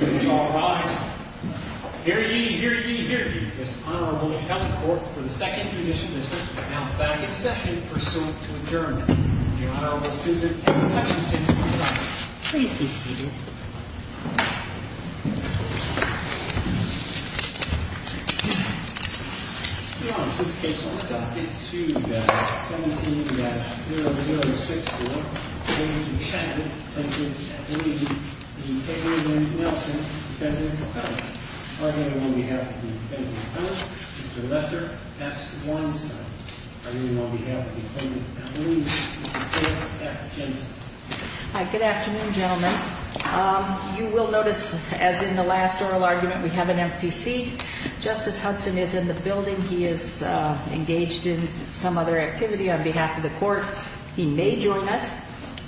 It is alright. Hear ye, hear ye, hear ye, this Honorable Kelly Court for the second tradition visit is now back in session pursuant to adjournment. The Honorable Susan Hutchinson presides. Please be seated. Your Honor, in this case, I would like to get to 17-0064, in the name of Mr. Chadwick v. Nelson, Defendant's Accomplice. Arguing on behalf of the Defendant's Accomplice, Mr. Lester S. Weinstein. Arguing on behalf of the Accomplice, Mr. Chadwick v. Hutchinson. Good afternoon, gentlemen. You will notice, as in the last oral argument, we have an empty seat. Justice Hudson is in the building. He is engaged in some other activity on behalf of the Court. He may join us,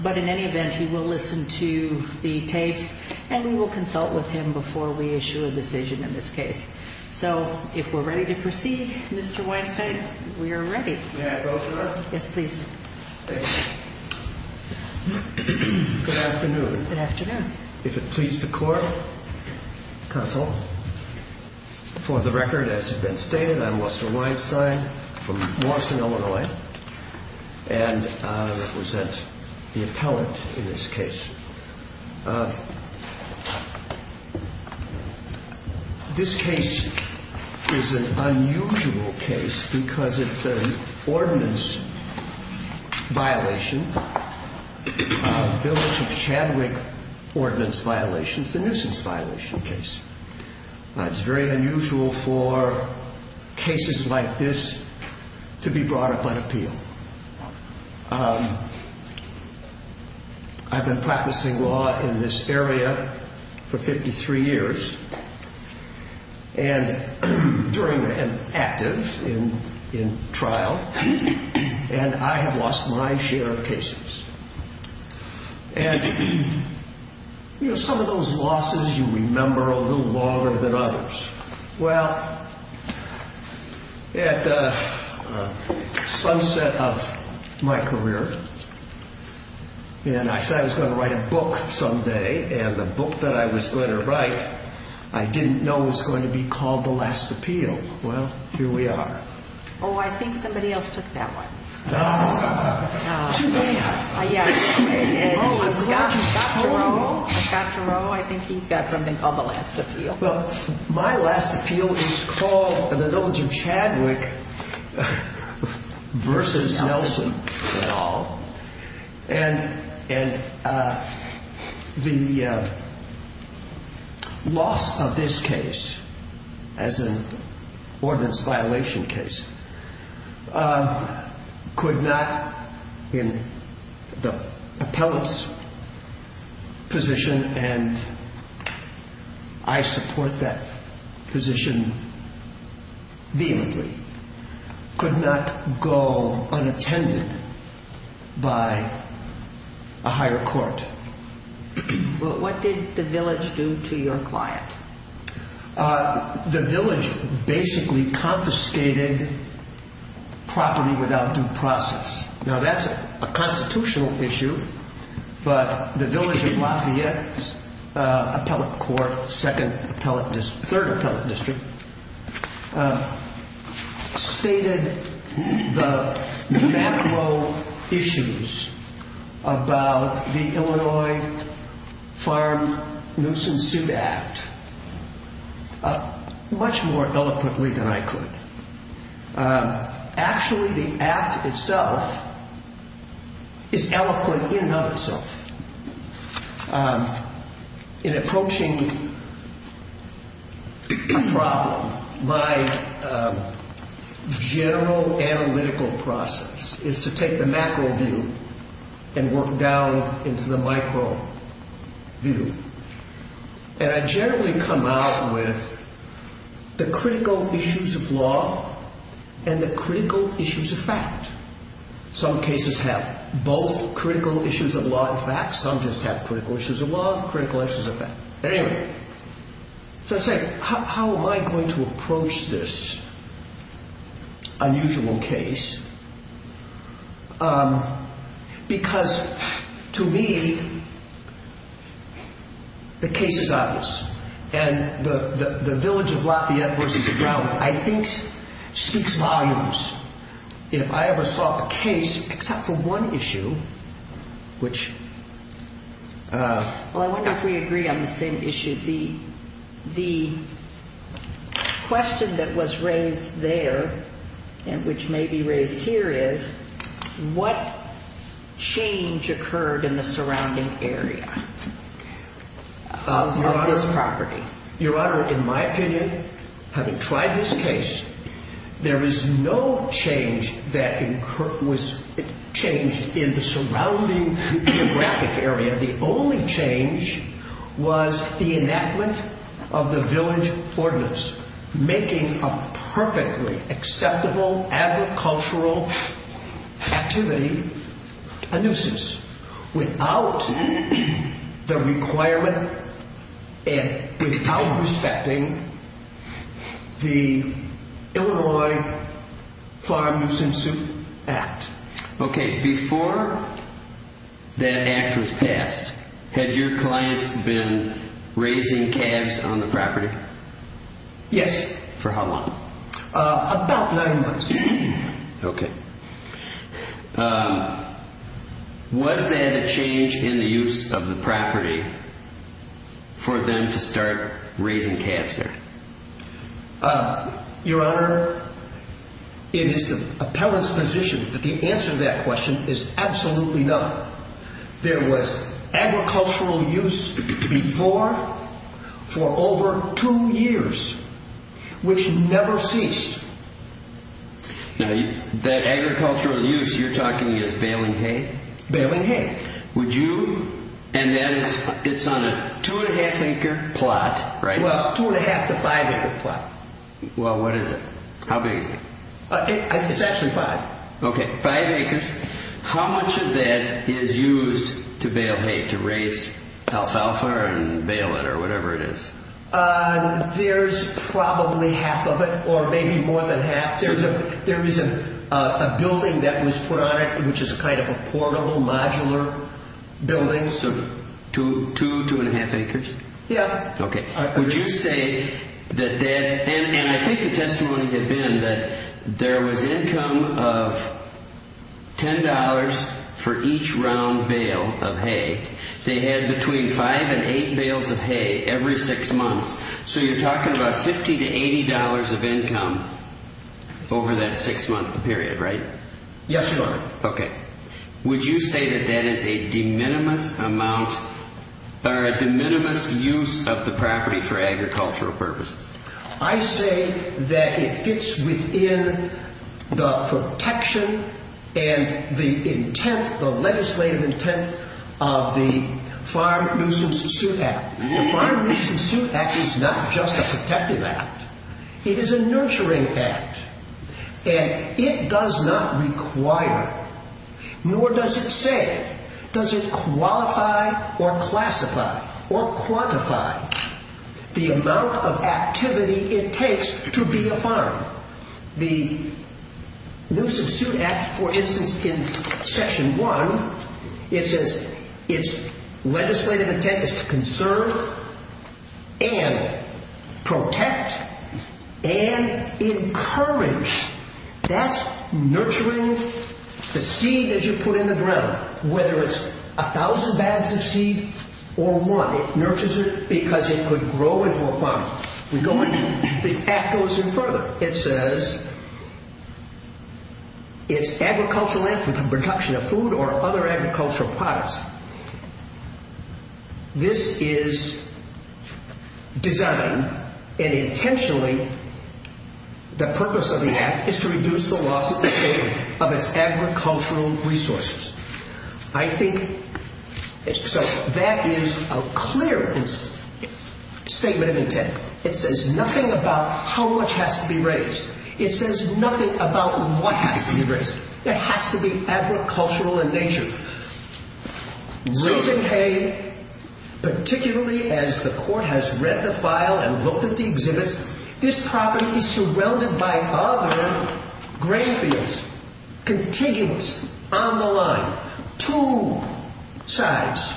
but in any event, he will listen to the tapes, and we will consult with him before we issue a decision in this case. So, if we're ready to proceed, Mr. Weinstein, we are ready. May I go, Your Honor? Yes, please. Good afternoon. Good afternoon. If it pleases the Court, Counsel, for the record, as has been stated, I'm Lester Weinstein from Lawson, Illinois, and I represent the appellant in this case. This case is an unusual case because it's an ordinance violation, village of Chadwick ordinance violation. It's a nuisance violation case. It's very unusual for cases like this to be brought up on appeal. I've been practicing law in this area for 53 years, and during and active in trial, and I have lost my share of cases. And, you know, some of those losses, you remember a little longer than others. Well, at the sunset of my career, and I said I was going to write a book someday, and the book that I was going to write, I didn't know was going to be called The Last Appeal. Well, here we are. Oh, I think somebody else took that one. Ah, too many. I got to know, I think he's got something called The Last Appeal. Well, my last appeal is called, and it's open to Chadwick versus Nelson. And the loss of this case as an ordinance violation case, could not, in the appellant's position, and I support that position vehemently, could not go unattended by a higher court. What did the village do to your client? Ah, the village basically confiscated property without due process. Now, that's a constitutional issue, but the village of Lafayette's appellate court, second appellate district, third appellate district, um, stated the macro issues about the Illinois Farm Nuisance Suit Act much more eloquently than I could. Actually, the act itself is eloquent in and of itself. Um, in approaching a problem, my general analytical process is to take the macro view and work down into the micro view. And I generally come out with the critical issues of law and the critical issues of fact. Some cases have both critical issues of law and facts. Some just have critical issues of law, critical issues of fact. At any rate, so I say, how am I going to approach this unusual case? Um, because to me, the case is obvious. And the village of Lafayette versus Brown, I think, speaks volumes. If I ever saw a case, except for one issue, which, uh... Well, I wonder if we agree on the same issue. The question that was raised there and which may be raised here is, what change occurred in the surrounding area of this property? Your Honor, in my opinion, having tried this case, there is no change that was changed in the surrounding geographic area. The only change was the enactment of the village ordinance, making a perfectly acceptable agricultural activity a nuisance. Without the requirement and without respecting the Illinois Farm Nuisance Act. Okay. Before that act was passed, had your clients been raising calves on the property? Yes. For how long? About nine months. Okay. Um, was there a change in the use of the property for them to start raising calves there? Your Honor, it is the appellant's position that the answer to that question is absolutely no. There was agricultural use before for over two years, which never ceased. Now, that agricultural use you're talking about is baling hay? Baling hay. Would you... and that is, it's on a two and a half acre plot, right? Well, two and a half to five acre plot. Well, what is it? How big is it? It's actually five. Okay, five acres. How much of that is used to bale hay, to raise alfalfa and bale it or whatever it is? Uh, there's probably half of it or maybe more than half. There is a building that was put on it, which is kind of a portable modular building. So two, two and a half acres? Yeah. Okay. Would you say that that... and I think the testimony had been that there was income of ten dollars for each round bale of hay. They had between five and eight bales of hay every six months. So you're talking about fifty to eighty dollars of income over that six month period, right? Yes, Your Honor. Okay. Would you say that that is a de minimis amount or a de minimis use of the property for agricultural purposes? I say that it fits within the protection and the intent, the legislative intent of the Farm Nuisance Suit Act. The Farm Nuisance Suit Act is not just a protective act. It is a nurturing act. And it does not require, nor does it say, does it qualify or classify or quantify the amount of activity it takes to be a farm. The Nuisance Suit Act, for instance, in section one, it says its legislative intent is to conserve and protect and encourage. That's nurturing the seed that you put in the ground, whether it's a thousand bags of seed or one. It nurtures it because it could grow into a farm. We go ahead. The act goes in further. It says it's agricultural land for the production of food or other agricultural products. This is designed and intentionally, the purpose of the act is to reduce the loss of the state of its agricultural resources. I think that is a clear statement of intent. It says nothing about how much has to be raised. It says nothing about what has to be raised. It has to be agricultural in nature. Susan Hay, particularly as the court has read the file and looked at the exhibits, this Two sides.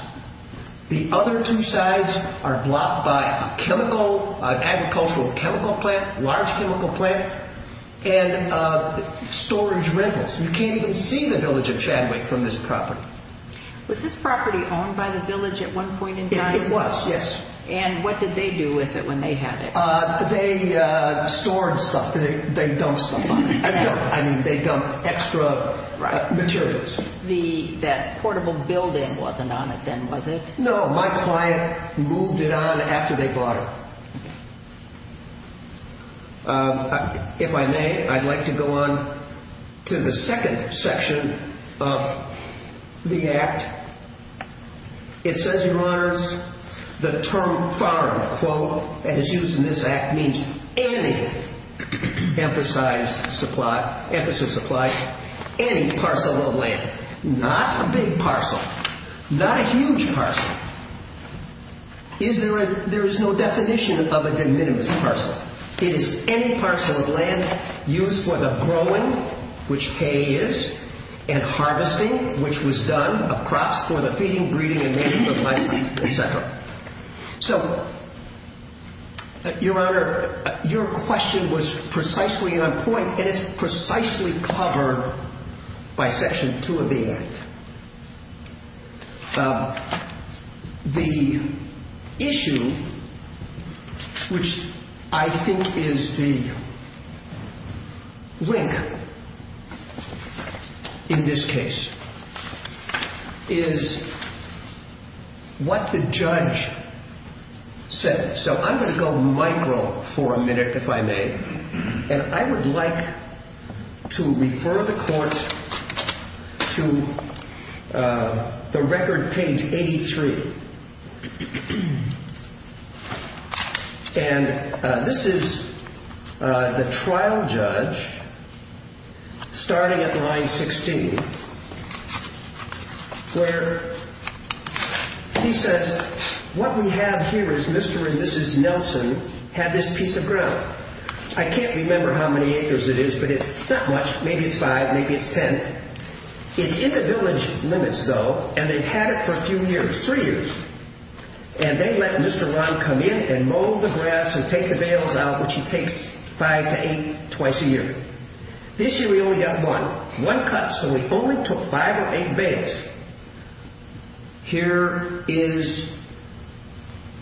The other two sides are blocked by a chemical, agricultural chemical plant, large chemical plant, and storage rentals. You can't even see the village of Chadwick from this property. Was this property owned by the village at one point in time? It was, yes. And what did they do with it when they had it? They stored stuff. They dumped stuff. I mean, they dumped extra materials. That portable building wasn't on it then, was it? No, my client moved it on after they bought it. If I may, I'd like to go on to the second section of the act. It says, Your Honors, the term farm, quote, as used in this act means any emphasized supply, any parcel of land, not a big parcel, not a huge parcel. There is no definition of a de minimis parcel. It is any parcel of land used for the growing, which hay is, and harvesting, which was done of crops for the feeding, breeding, etc. So, Your Honor, your question was precisely on point, and it's precisely covered by section 2 of the act. The issue, which I think is the link in this case, is what the judge said. So I'm going to go micro for a minute, if I may. And I would like to refer the court to the record page 83. And this is the trial judge starting at line 16, where he says, What we have here is Mr. and Mrs. Nelson have this piece of ground. I can't remember how many acres it is, but it's not much. Maybe it's five, maybe it's 10. It's in the village limits, though, and they've had it for a few years, three years. And they let Mr. Ron come in and mow the grass and take the bales out, which he takes five to eight twice a year. This year, we only got one. One cut, so we only took five or eight bales. Here is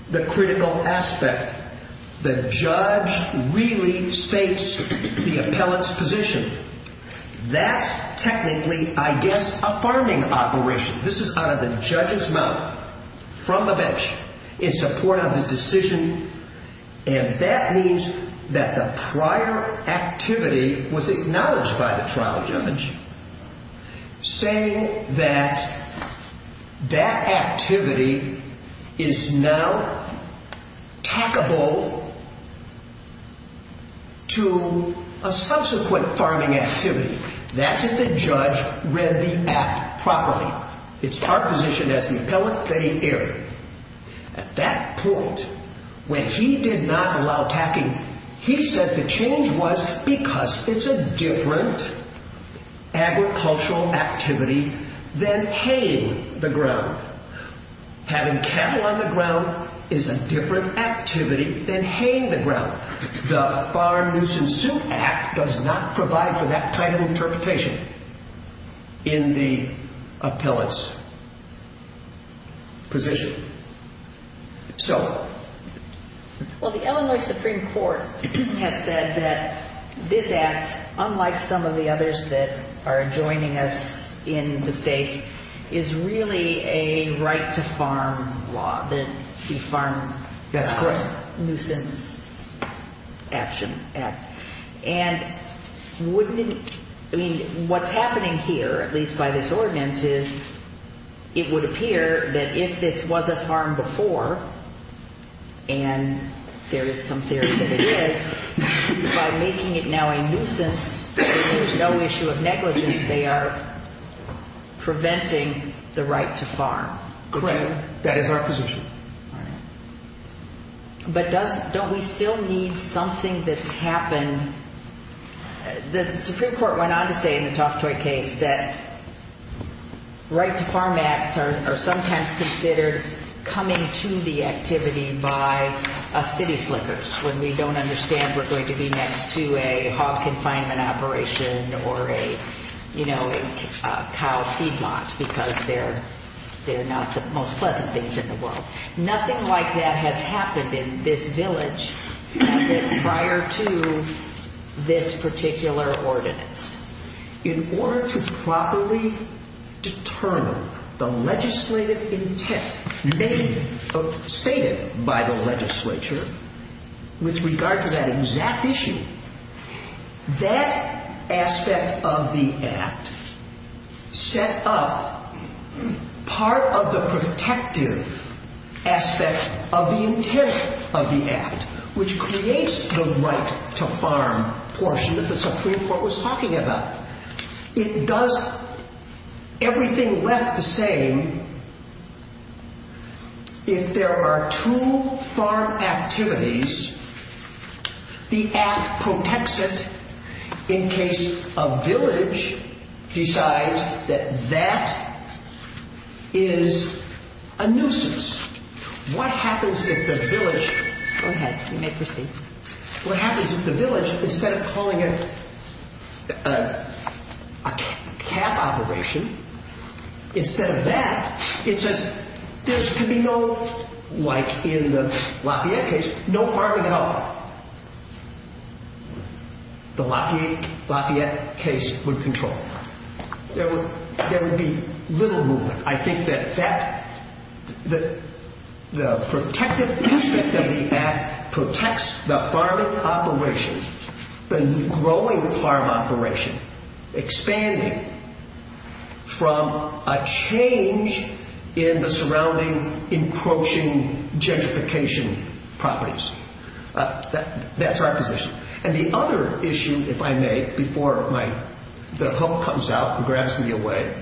the critical aspect. The judge really states the appellant's position. That's technically, I guess, a farming operation. This is out of the judge's mouth, from the bench, in support of his decision. And that means that the prior activity was acknowledged by the trial judge, saying that that activity is now tackable to a subsequent farming activity. That's if the judge read the app properly. It's our position as the appellant, they err. At that point, when he did not allow tacking, he said the change was because it's a different agricultural activity than haying the ground. Having cattle on the ground is a different activity than haying the ground. The Farm Nuisance Suit Act does not provide for that type of interpretation in the appellant's position. So. Well, the Illinois Supreme Court has said that this act, unlike some of the others that are joining us in the states, is really a right to farm law, the Farm Nuisance Action Act. And wouldn't it, I mean, what's happening here, at least by this ordinance, is it would appear that if this was a farm before, and there is some theory that it is, by making it now a nuisance, there's no issue of negligence. They are preventing the right to farm. Correct. That is our position. But don't we still need something that's happened? The Supreme Court went on to say in the Toftoy case that right to farm acts are sometimes considered coming to the activity by city slickers, when we don't understand we're going to be next to a hog confinement operation or a, you know, a cow feedlot, because they're not the most pleasant things in the world. Nothing like that has happened in this village prior to this particular ordinance. In order to properly determine the legislative intent stated by the legislature with regard to that exact issue, that aspect of the act set up part of the protective aspect of the intent of the act, which creates the right to farm portion that the Supreme Court was talking about. It does everything left the same. If there are two farm activities, the act protects it in case a village decides that that is a nuisance. What happens if the village... Go ahead. You may proceed. What happens if the village, instead of calling it a calf operation, instead of that, it says there can be no, like in the Lafayette case, no farming at all. The Lafayette case would control. There would be little movement. I think that the protective aspect of the act protects the farming operation, the growing farm operation, expanding from a change in the surrounding encroaching gentrification properties. That's our position. And the other issue, if I may, before the hope comes out and grabs me away,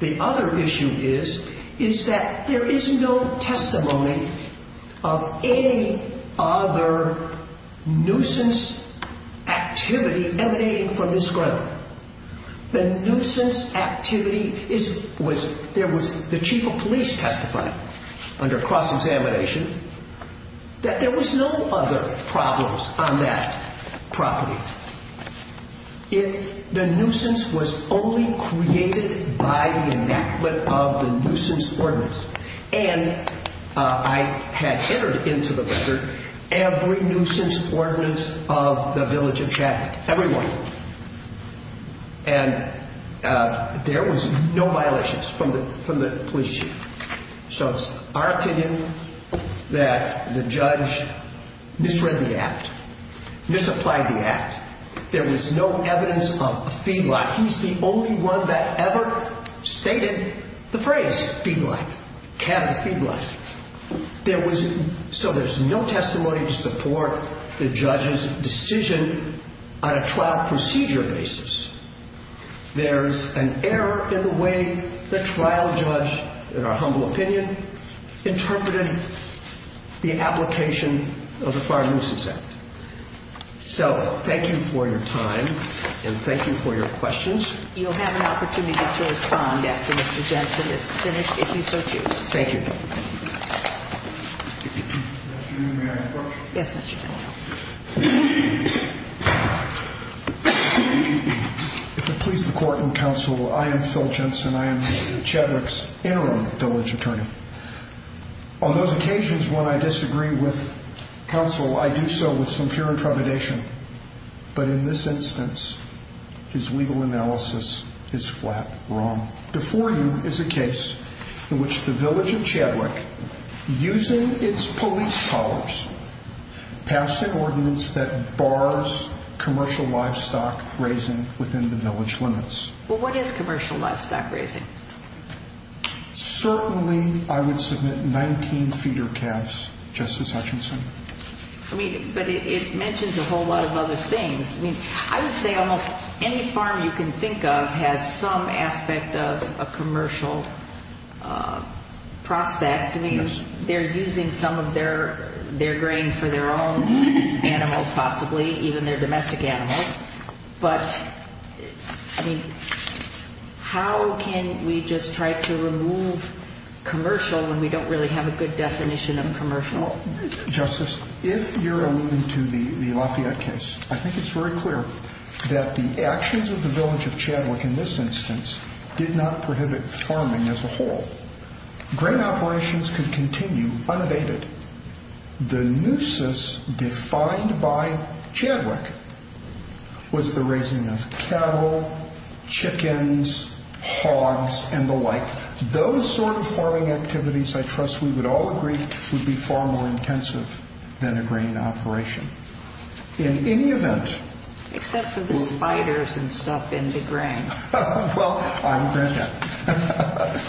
the other issue is, is that there is no testimony of any other nuisance activity emanating from this ground. The nuisance activity is, was, there was the chief of police testifying under cross examination that there was no other problems on that property. Now, if the nuisance was only created by the enactment of the nuisance ordinance, and I had entered into the record every nuisance ordinance of the village of Chattanooga, everyone. And there was no violations from the, from the police chief. So it's our opinion that the judge misread the act, misapplied the act. There was no evidence of a feedlot. He's the only one that ever stated the phrase feedlot, cabinet feedlot. There was, so there's no testimony to support the judge's decision on a trial procedure basis. There's an error in the way the trial judge, in our humble opinion, interpreted the application of the Fire Nuisance Act. So thank you for your time. And thank you for your questions. You'll have an opportunity to respond after Mr. Jensen is finished, if you so choose. Thank you. If it please the court and counsel, I am Phil Jensen. I am Chattanooga's interim village attorney. On those occasions, when I disagree with counsel, I do so with some fear and trepidation. But in this instance, his legal analysis is flat wrong. Before you is a case in which the village of Chadwick, using its police powers, passed an ordinance that bars commercial livestock raising within the village limits. Well, what is commercial livestock raising? Certainly, I would submit 19 feeder calves, Justice Hutchinson. I mean, but it mentions a whole lot of other things. I would say almost any farm you can think of has some aspect of a commercial prospect. They're using some of their grain for their own animals, possibly, even their domestic animals. But I mean, how can we just try to remove commercial when we don't really have a good definition of commercial? Justice, if you're alluding to the Lafayette case, I think it's very clear that the actions of the village of Chadwick in this instance did not prohibit farming as a whole. Grain operations could continue unabated. The nuisance defined by Chadwick was the raising of cattle, chickens, hogs, and the like. Those sort of farming activities, I trust we would all agree, would be far more intensive than a grain operation. In any event... Except for the spiders and stuff in the grains. Well, I would grant that.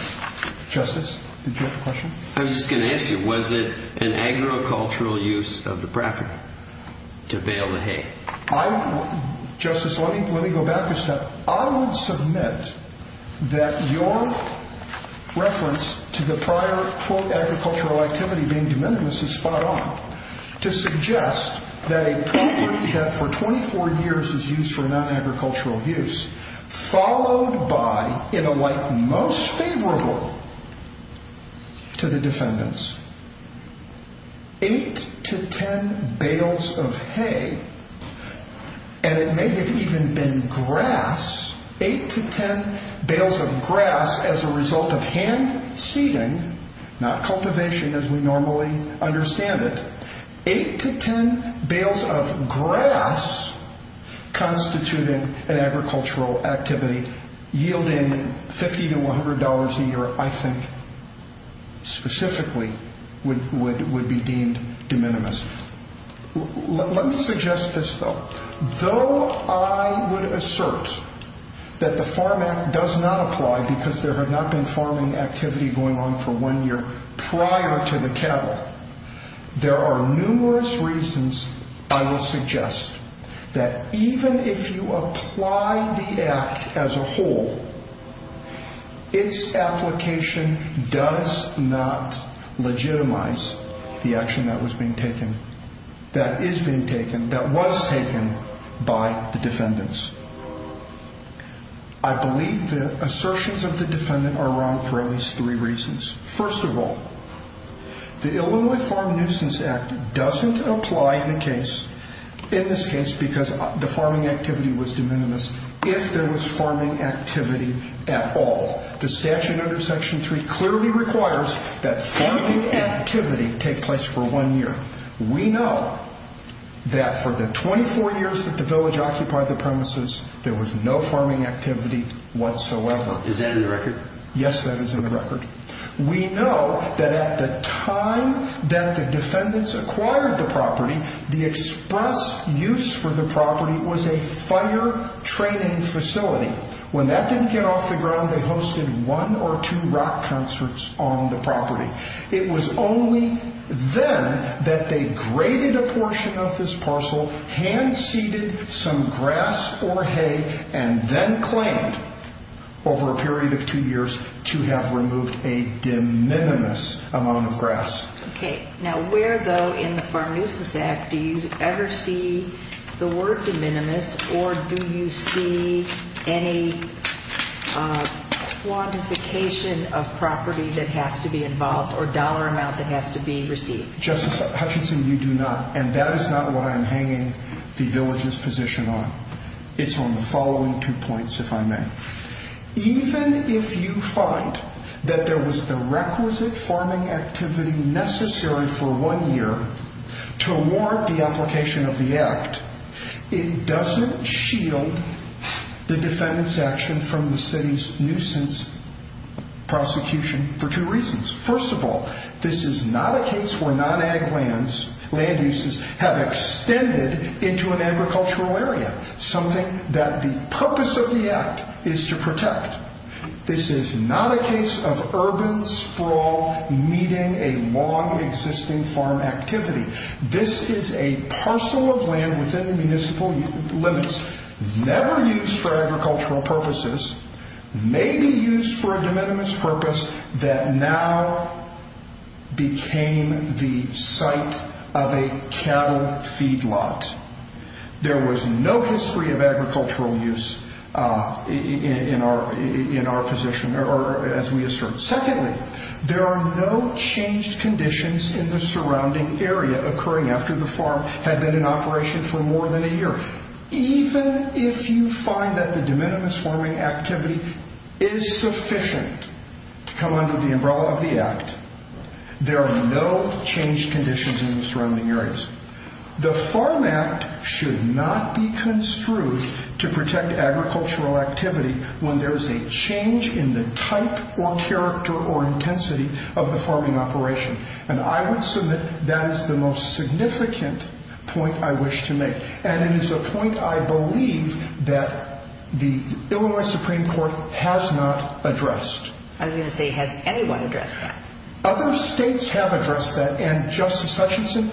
Justice, did you have a question? I was just going to ask you, was it an agricultural use of the property to bale the hay? Justice, let me go back a step. I would submit that your reference to the prior, quote, agricultural activity being de minimis is spot on to suggest that a property that for 24 years is used for non-agricultural use, followed by, in a light most favorable to the defendants, 8 to 10 bales of hay, and it may have even been grass, 8 to 10 bales of grass as a result of hand seeding, not cultivation as we normally understand it, 8 to 10 bales of grass constituting an agricultural activity yielding $50 to $100 a year, I think, specifically would be deemed de minimis. Let me suggest this, though. Though I would assert that the Farm Act does not apply because there had not been farming activity going on for one year prior to the cattle, there are numerous reasons I will suggest that even if you apply the Act as a whole, its application does not legitimize the action that was being taken, that is being taken, that was taken by the defendants. I believe the assertions of the defendant are wrong for at least three reasons. First of all, the Illinois Farm Nuisance Act doesn't apply in this case because the farming activity was de minimis if there was farming activity at all. The statute under Section 3 clearly requires that farming activity take place for one year. We know that for the 24 years that the village occupied the premises, there was no farming activity whatsoever. Is that in the record? Yes, that is in the record. We know that at the time that the defendants acquired the property, the express use for the property was a fire training facility. When that didn't get off the ground, they hosted one or two rock concerts on the property. It was only then that they graded a portion of this parcel, hand seeded some grass or hay, and then claimed over a period of two years to have removed a de minimis amount of grass. Okay, now where though in the Farm Nuisance Act do you ever see the word de minimis or do you see any quantification of property that has to be involved or dollar amount that has to be received? Justice Hutchinson, you do not. That is not what I'm hanging the village's position on. It's on the following two points, if I may. Even if you find that there was the requisite farming activity necessary for one year to warrant the application of the act, it doesn't shield the defendant's action from the city's nuisance prosecution for two reasons. First of all, this is not a case where non-ag land uses have extended into an agricultural area, something that the purpose of the act is to protect. This is not a case of urban sprawl meeting a long existing farm activity. This is a parcel of land within municipal limits, never used for agricultural purposes, maybe used for a de minimis purpose that now became the site of a cattle feedlot. There was no history of agricultural use in our position or as we assert. Secondly, there are no changed conditions in the surrounding area occurring after the farm had been in operation for more than a year. Even if you find that the de minimis farming activity is sufficient to come under the umbrella of the act, there are no changed conditions in the surrounding areas. The Farm Act should not be construed to protect agricultural activity when there is a change in the type or character or intensity of the farming operation. I would submit that is the most significant point I wish to make. It is a point I believe that the Illinois Supreme Court has not addressed. I was going to say, has anyone addressed that? Other states have addressed that. Justice Hutchinson,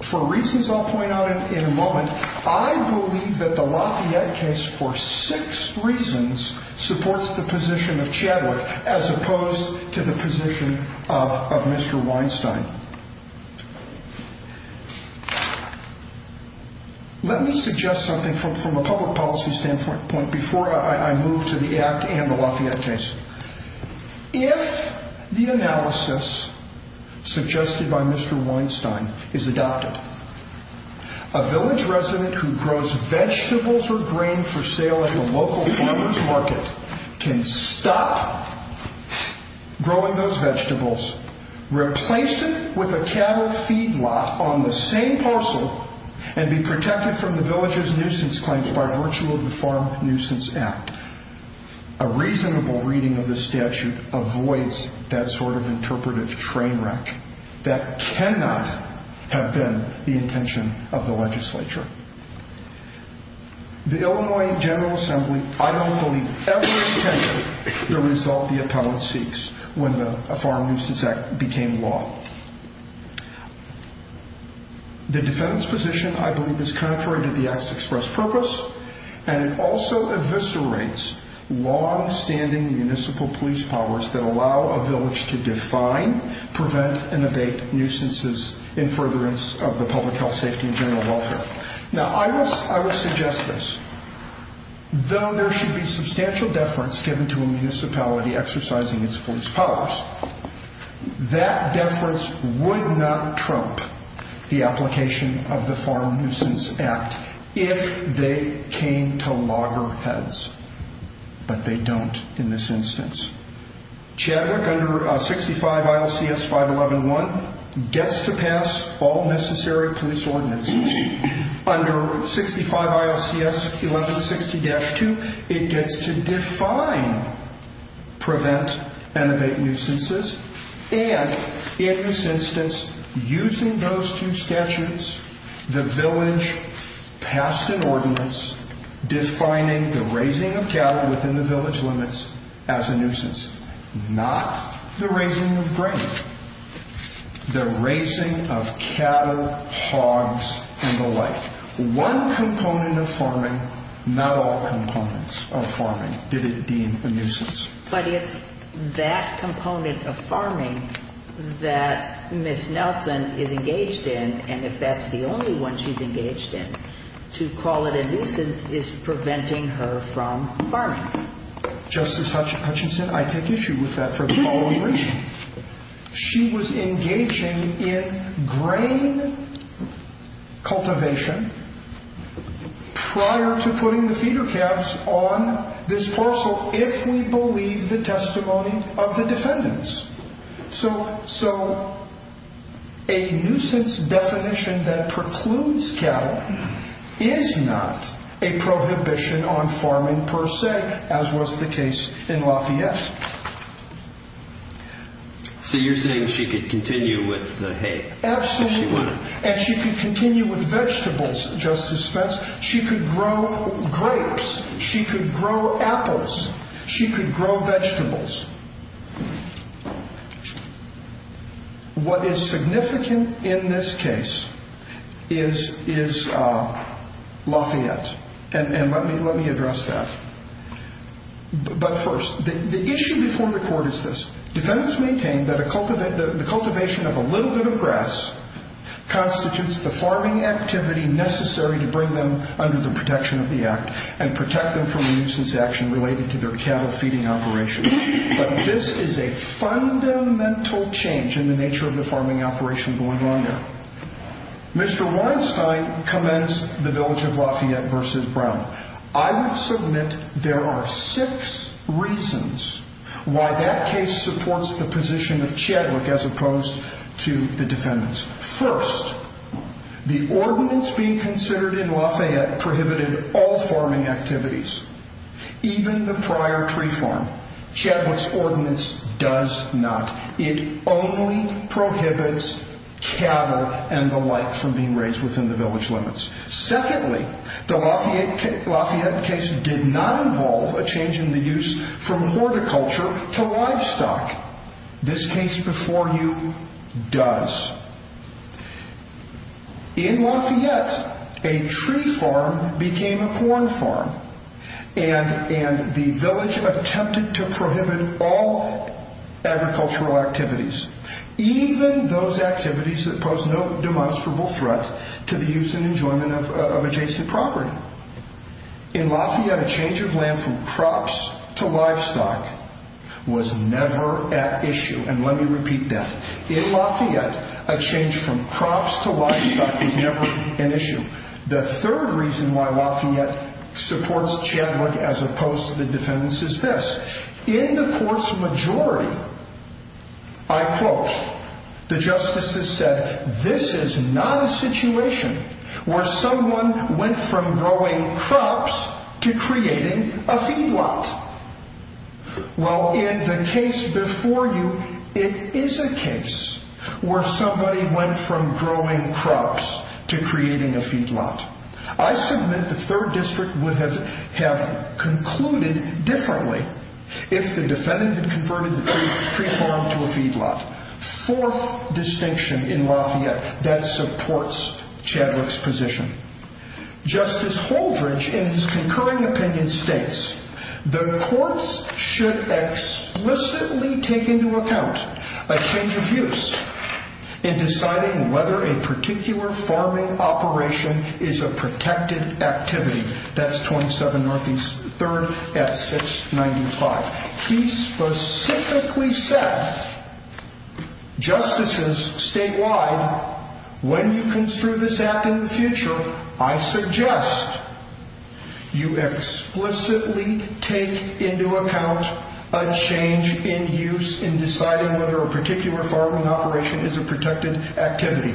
for reasons I'll point out in a moment, I believe that the Lafayette case for six reasons supports the position of Chadwick as opposed to the position of Mr. Weinstein. Let me suggest something from a public policy standpoint before I move to the act and the Lafayette case. If the analysis suggested by Mr. Weinstein is adopted, a village resident who grows vegetables or grain for sale at the local farmer's market can stop growing those vegetables, replace it with a cattle feedlot on the same parcel, and be protected from the village's nuisance claims by virtue of the Farm Nuisance Act, a reasonable reading of the statute avoids that sort of interpretive train wreck. That cannot have been the intention of the legislature. The Illinois General Assembly, I don't believe, ever intended the result the appellate seeks when the Farm Nuisance Act became law. The defendant's position, I believe, is contrary to the Act's express purpose, and it also eviscerates longstanding municipal police powers that allow a village to define, prevent, and abate nuisances in furtherance of the public health, safety, and general welfare. Now, I would suggest this. Though there should be substantial deference given to a municipality exercising its police powers, that deference would not trope the application of the Farm Nuisance Act if they came to loggerheads. But they don't in this instance. Chadwick, under 65 ILCS 5111, gets to pass all necessary police ordinances. Under 65 ILCS 1160-2, it gets to define, prevent, and abate nuisances. And in this instance, using those two statutes, the village passed an ordinance defining the not the raising of grain, the raising of cattle, hogs, and the like. One component of farming, not all components of farming did it deem a nuisance. But it's that component of farming that Ms. Nelson is engaged in, and if that's the only one she's engaged in, to call it a nuisance is preventing her from farming. Justice Hutchinson, I take issue with that for the following reason. She was engaging in grain cultivation prior to putting the feeder calves on this parcel if we believe the testimony of the defendants. So a nuisance definition that precludes cattle is not a prohibition on farming per se, as was the case in Lafayette. So you're saying she could continue with the hay? Absolutely. And she could continue with vegetables, Justice Smith. She could grow grapes. She could grow apples. She could grow vegetables. Now, what is significant in this case is Lafayette, and let me address that. But first, the issue before the court is this. Defendants maintain that the cultivation of a little bit of grass constitutes the farming activity necessary to bring them under the protection of the Act and protect them from a nuisance action related to their cattle feeding operation. But this is a fundamental change in the nature of the farming operation going on there. Mr. Weinstein commends the village of Lafayette versus Brown. I would submit there are six reasons why that case supports the position of Chadwick as opposed to the defendants. First, the ordinance being considered in Lafayette prohibited all farming activities, even the ordinance does not. It only prohibits cattle and the like from being raised within the village limits. Secondly, the Lafayette case did not involve a change in the use from horticulture to livestock. This case before you does. In Lafayette, a tree farm became a corn farm, and the village attempted to prohibit all agricultural activities, even those activities that pose no demonstrable threat to the use and enjoyment of adjacent property. In Lafayette, a change of land from crops to livestock was never at issue. And let me repeat that. In Lafayette, a change from crops to livestock is never an issue. The third reason why Lafayette supports Chadwick as opposed to the defendants is this. In the court's majority, I quote, the justices said, this is not a situation where someone went from growing crops to creating a feedlot. Well, in the case before you, it is a case where somebody went from growing crops to creating a feedlot. I submit the third district would have concluded differently if the defendant had converted the tree farm to a feedlot. Fourth distinction in Lafayette that supports Chadwick's position. Justice Holdridge, in his concurring opinion, states the courts should explicitly take into account a change of use in deciding whether a particular farming operation is a protected activity. That's 27 Northeast 3rd at 695. He specifically said, justices statewide, when you construe this act in the future, I suggest you explicitly take into account a change in use in deciding whether a particular farming operation is a protected activity.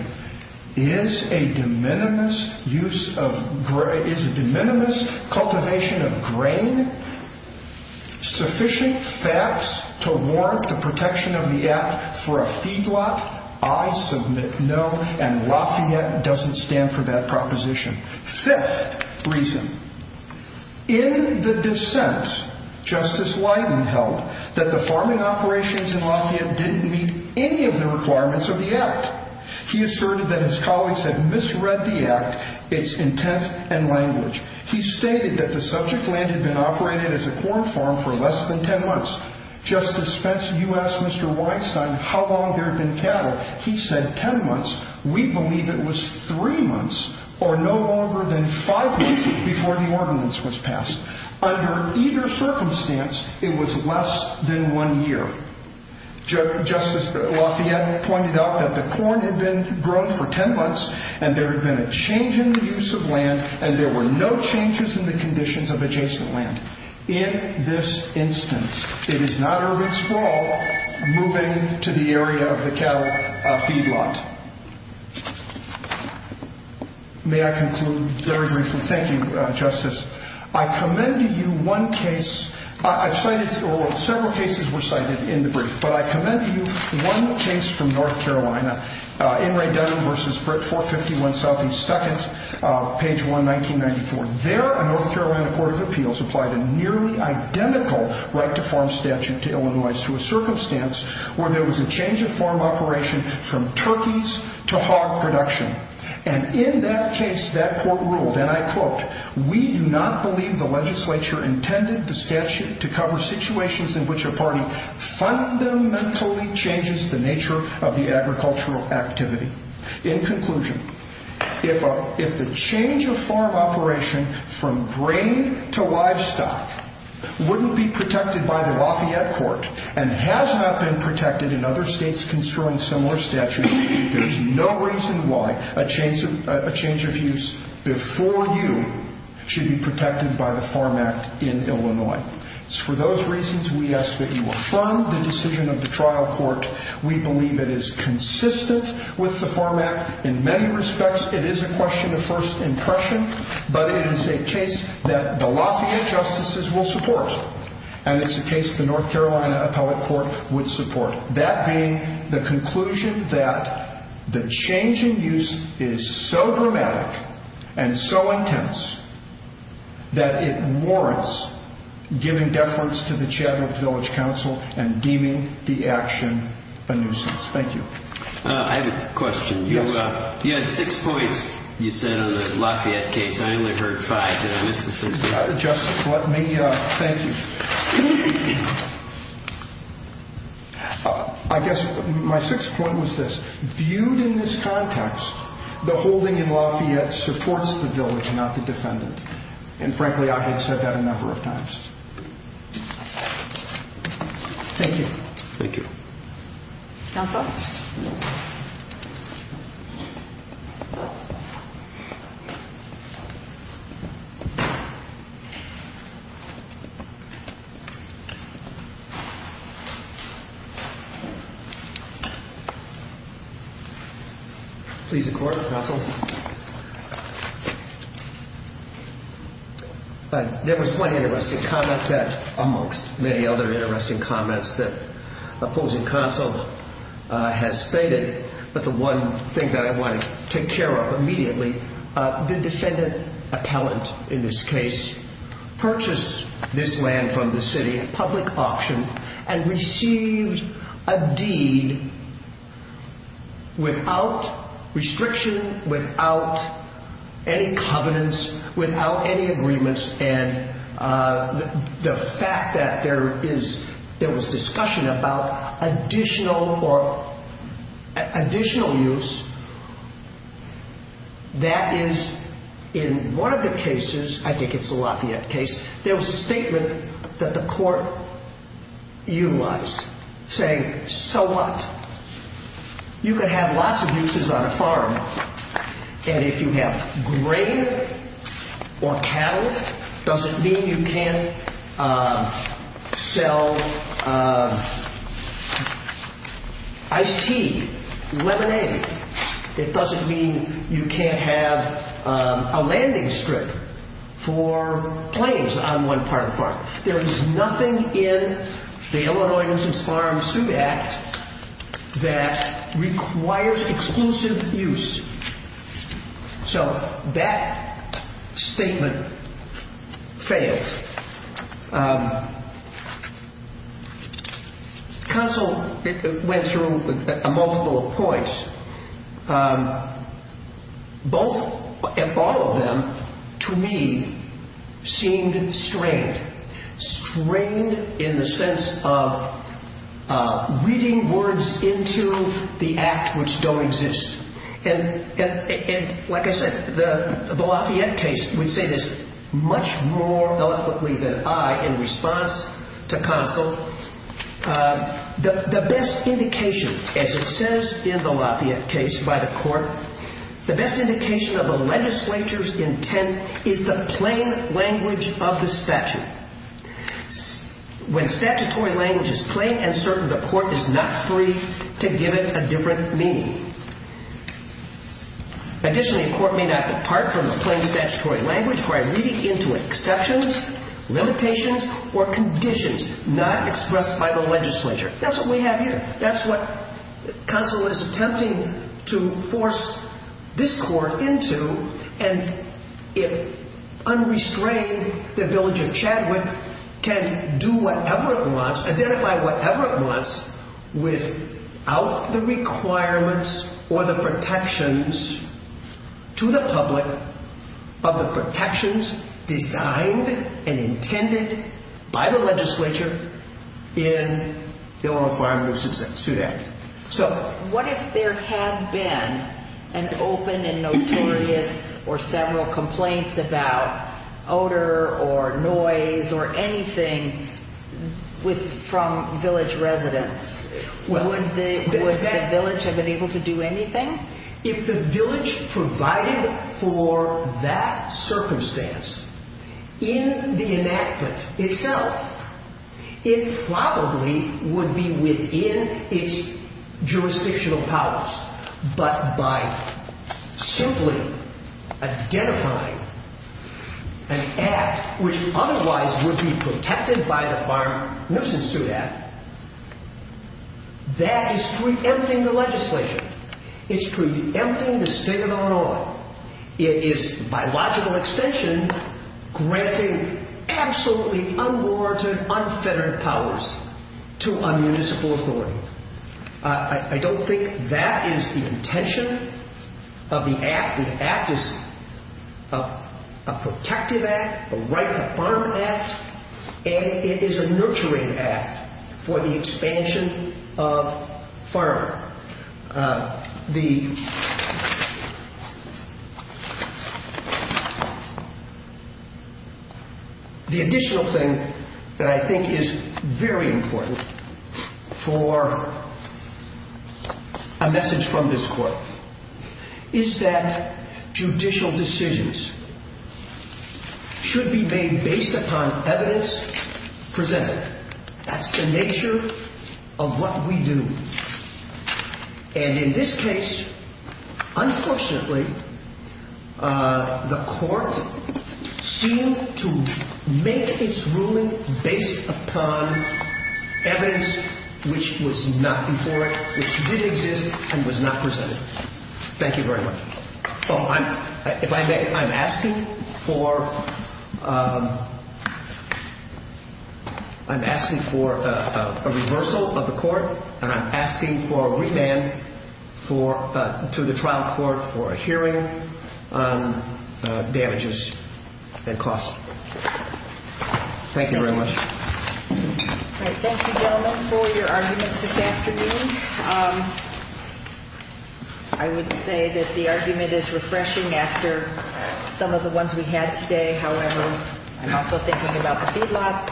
Is a de minimis cultivation of grain sufficient facts to warrant the protection of the act for a feedlot? I submit no, and Lafayette doesn't stand for that proposition. Fifth reason in the dissent, Justice Leiden held that the farming operations in Lafayette didn't meet any of the requirements of the act. He asserted that his colleagues had misread the act, its intent and language. He stated that the subject land had been operated as a corn farm for less than 10 months. Justice Spence, you asked Mr. Weinstein how long there had been cattle. He said 10 months. We believe it was three months or no longer than five months before the ordinance was passed. Under either circumstance, it was less than one year. Justice Lafayette pointed out that the corn had been grown for 10 months and there had been a change in the use of land and there were no changes in the conditions of adjacent land. In this instance, it is not urban sprawl moving to the area of the cattle feedlot. May I conclude very briefly? Thank you, Justice. I commend to you one case I've cited several cases were cited in the brief, but I commend to you one case from North Carolina, Inright Dunn v. Britt 451, South East 2nd, page 1, 1994. There, a North Carolina court of appeals applied a nearly identical right to farm statute to Illinois to a circumstance where there was a change of farm operation from turkeys to hog production. In that case, that court ruled, and I quote, we do not believe the legislature intended the statute to cover situations in which a party fundamentally changes the nature of the agricultural activity. In conclusion, if the change of farm operation from grain to livestock wouldn't be protected by the Lafayette court and has not been protected in other states construing similar statutes, there's no reason why a change of use before you should be protected by the Farm Act in Illinois. It's for those reasons we ask that you affirm the decision of the trial court. We believe it is consistent with the Farm Act in many respects. It is a question of first impression, but it is a case that the Lafayette justices will support, and it's a case the North Carolina appellate court would support. That being the conclusion that the change in use is so dramatic and so intense that it warrants giving deference to the Chadwick Village Council and deeming the action a nuisance. Thank you. I have a question. You had six points, you said, on the Lafayette case. I only heard five. Did I miss the six points? Justice, let me thank you. I guess my sixth point was this. Viewed in this context, the holding in Lafayette supports the village, not the defendant. And frankly, I had said that a number of times. Thank you. Thank you. Please, the court. Counsel. There was one interesting comment that, amongst many other interesting comments that opposing counsel has stated, but the one thing that I want to take care of immediately, the defendant appellant in this case purchased this land from the city, a public auction, and received a deed without restriction, without any covenants, without any agreements. And the fact that there was discussion about additional use, that is, in one of the cases, I think it's the Lafayette case, there was a statement that the court utilized, saying, so what? You can have lots of uses on a farm. And if you have grain or cattle, it doesn't mean you can't sell iced tea, lemonade. It doesn't mean you can't have a landing strip for planes on one part of the farm. There is nothing in the Illinois Citizens Farm Suit Act that requires exclusive use. So that statement fails. Counsel went through a multiple of points. Both, all of them, to me, seemed strained. Strained in the sense of reading words into the act which don't exist. And like I said, the Lafayette case, we'd say this much more eloquently than I in response to counsel, the best indication, as it says in the Lafayette case by the court, the best indication of the legislature's intent is the plain language of the statute. When statutory language is plain and certain, the court is not free to give it a different meaning. Additionally, a court may not depart from a plain statutory language by reading into exceptions, limitations, or conditions not expressed by the legislature. That's what we have here. That's what counsel is attempting to force this court into. And if unrestrained, the village of Chadwick can do whatever it wants, identify whatever it wants, without the requirements or the protections to the public of the protections designed and intended by the legislature in the Oral Farm Abuse and Suit Act. So what if there had been an open and notorious or several complaints about odor or noise or anything from village residents, would the village have been able to do anything? If the village provided for that circumstance in the enactment itself, it probably would be within its jurisdictional powers. But by simply identifying an act which otherwise would be protected by the Farm Nuisance Suit Act, that is preempting the legislature. It's preempting the state of Illinois. It is, by logical extension, granting absolutely unwarranted, unfettered powers to a municipal authority. I don't think that is the intention of the act. The act is a protective act, a right to farm act, and it is a nurturing act for the expansion of farming. However, the additional thing that I think is very important for a message from this court is that judicial decisions should be made based upon evidence presented. That's the nature of what we do. And in this case, unfortunately, the court seemed to make its ruling based upon evidence which was not before it, which did exist and was not presented. Thank you very much. Well, I'm asking for a reversal of the court, and I'm asking for a remand to the trial court for a hearing on damages and costs. Thank you very much. All right. Thank you, gentlemen, for your arguments this afternoon. I would say that the argument is refreshing after some of the ones we had today. However, I'm also thinking about the feedlot.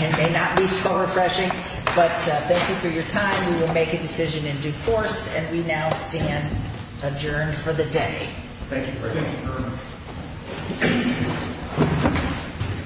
It may not be so refreshing, but thank you for your time. We will make a decision in due course, and we now stand adjourned for the day. Thank you very much.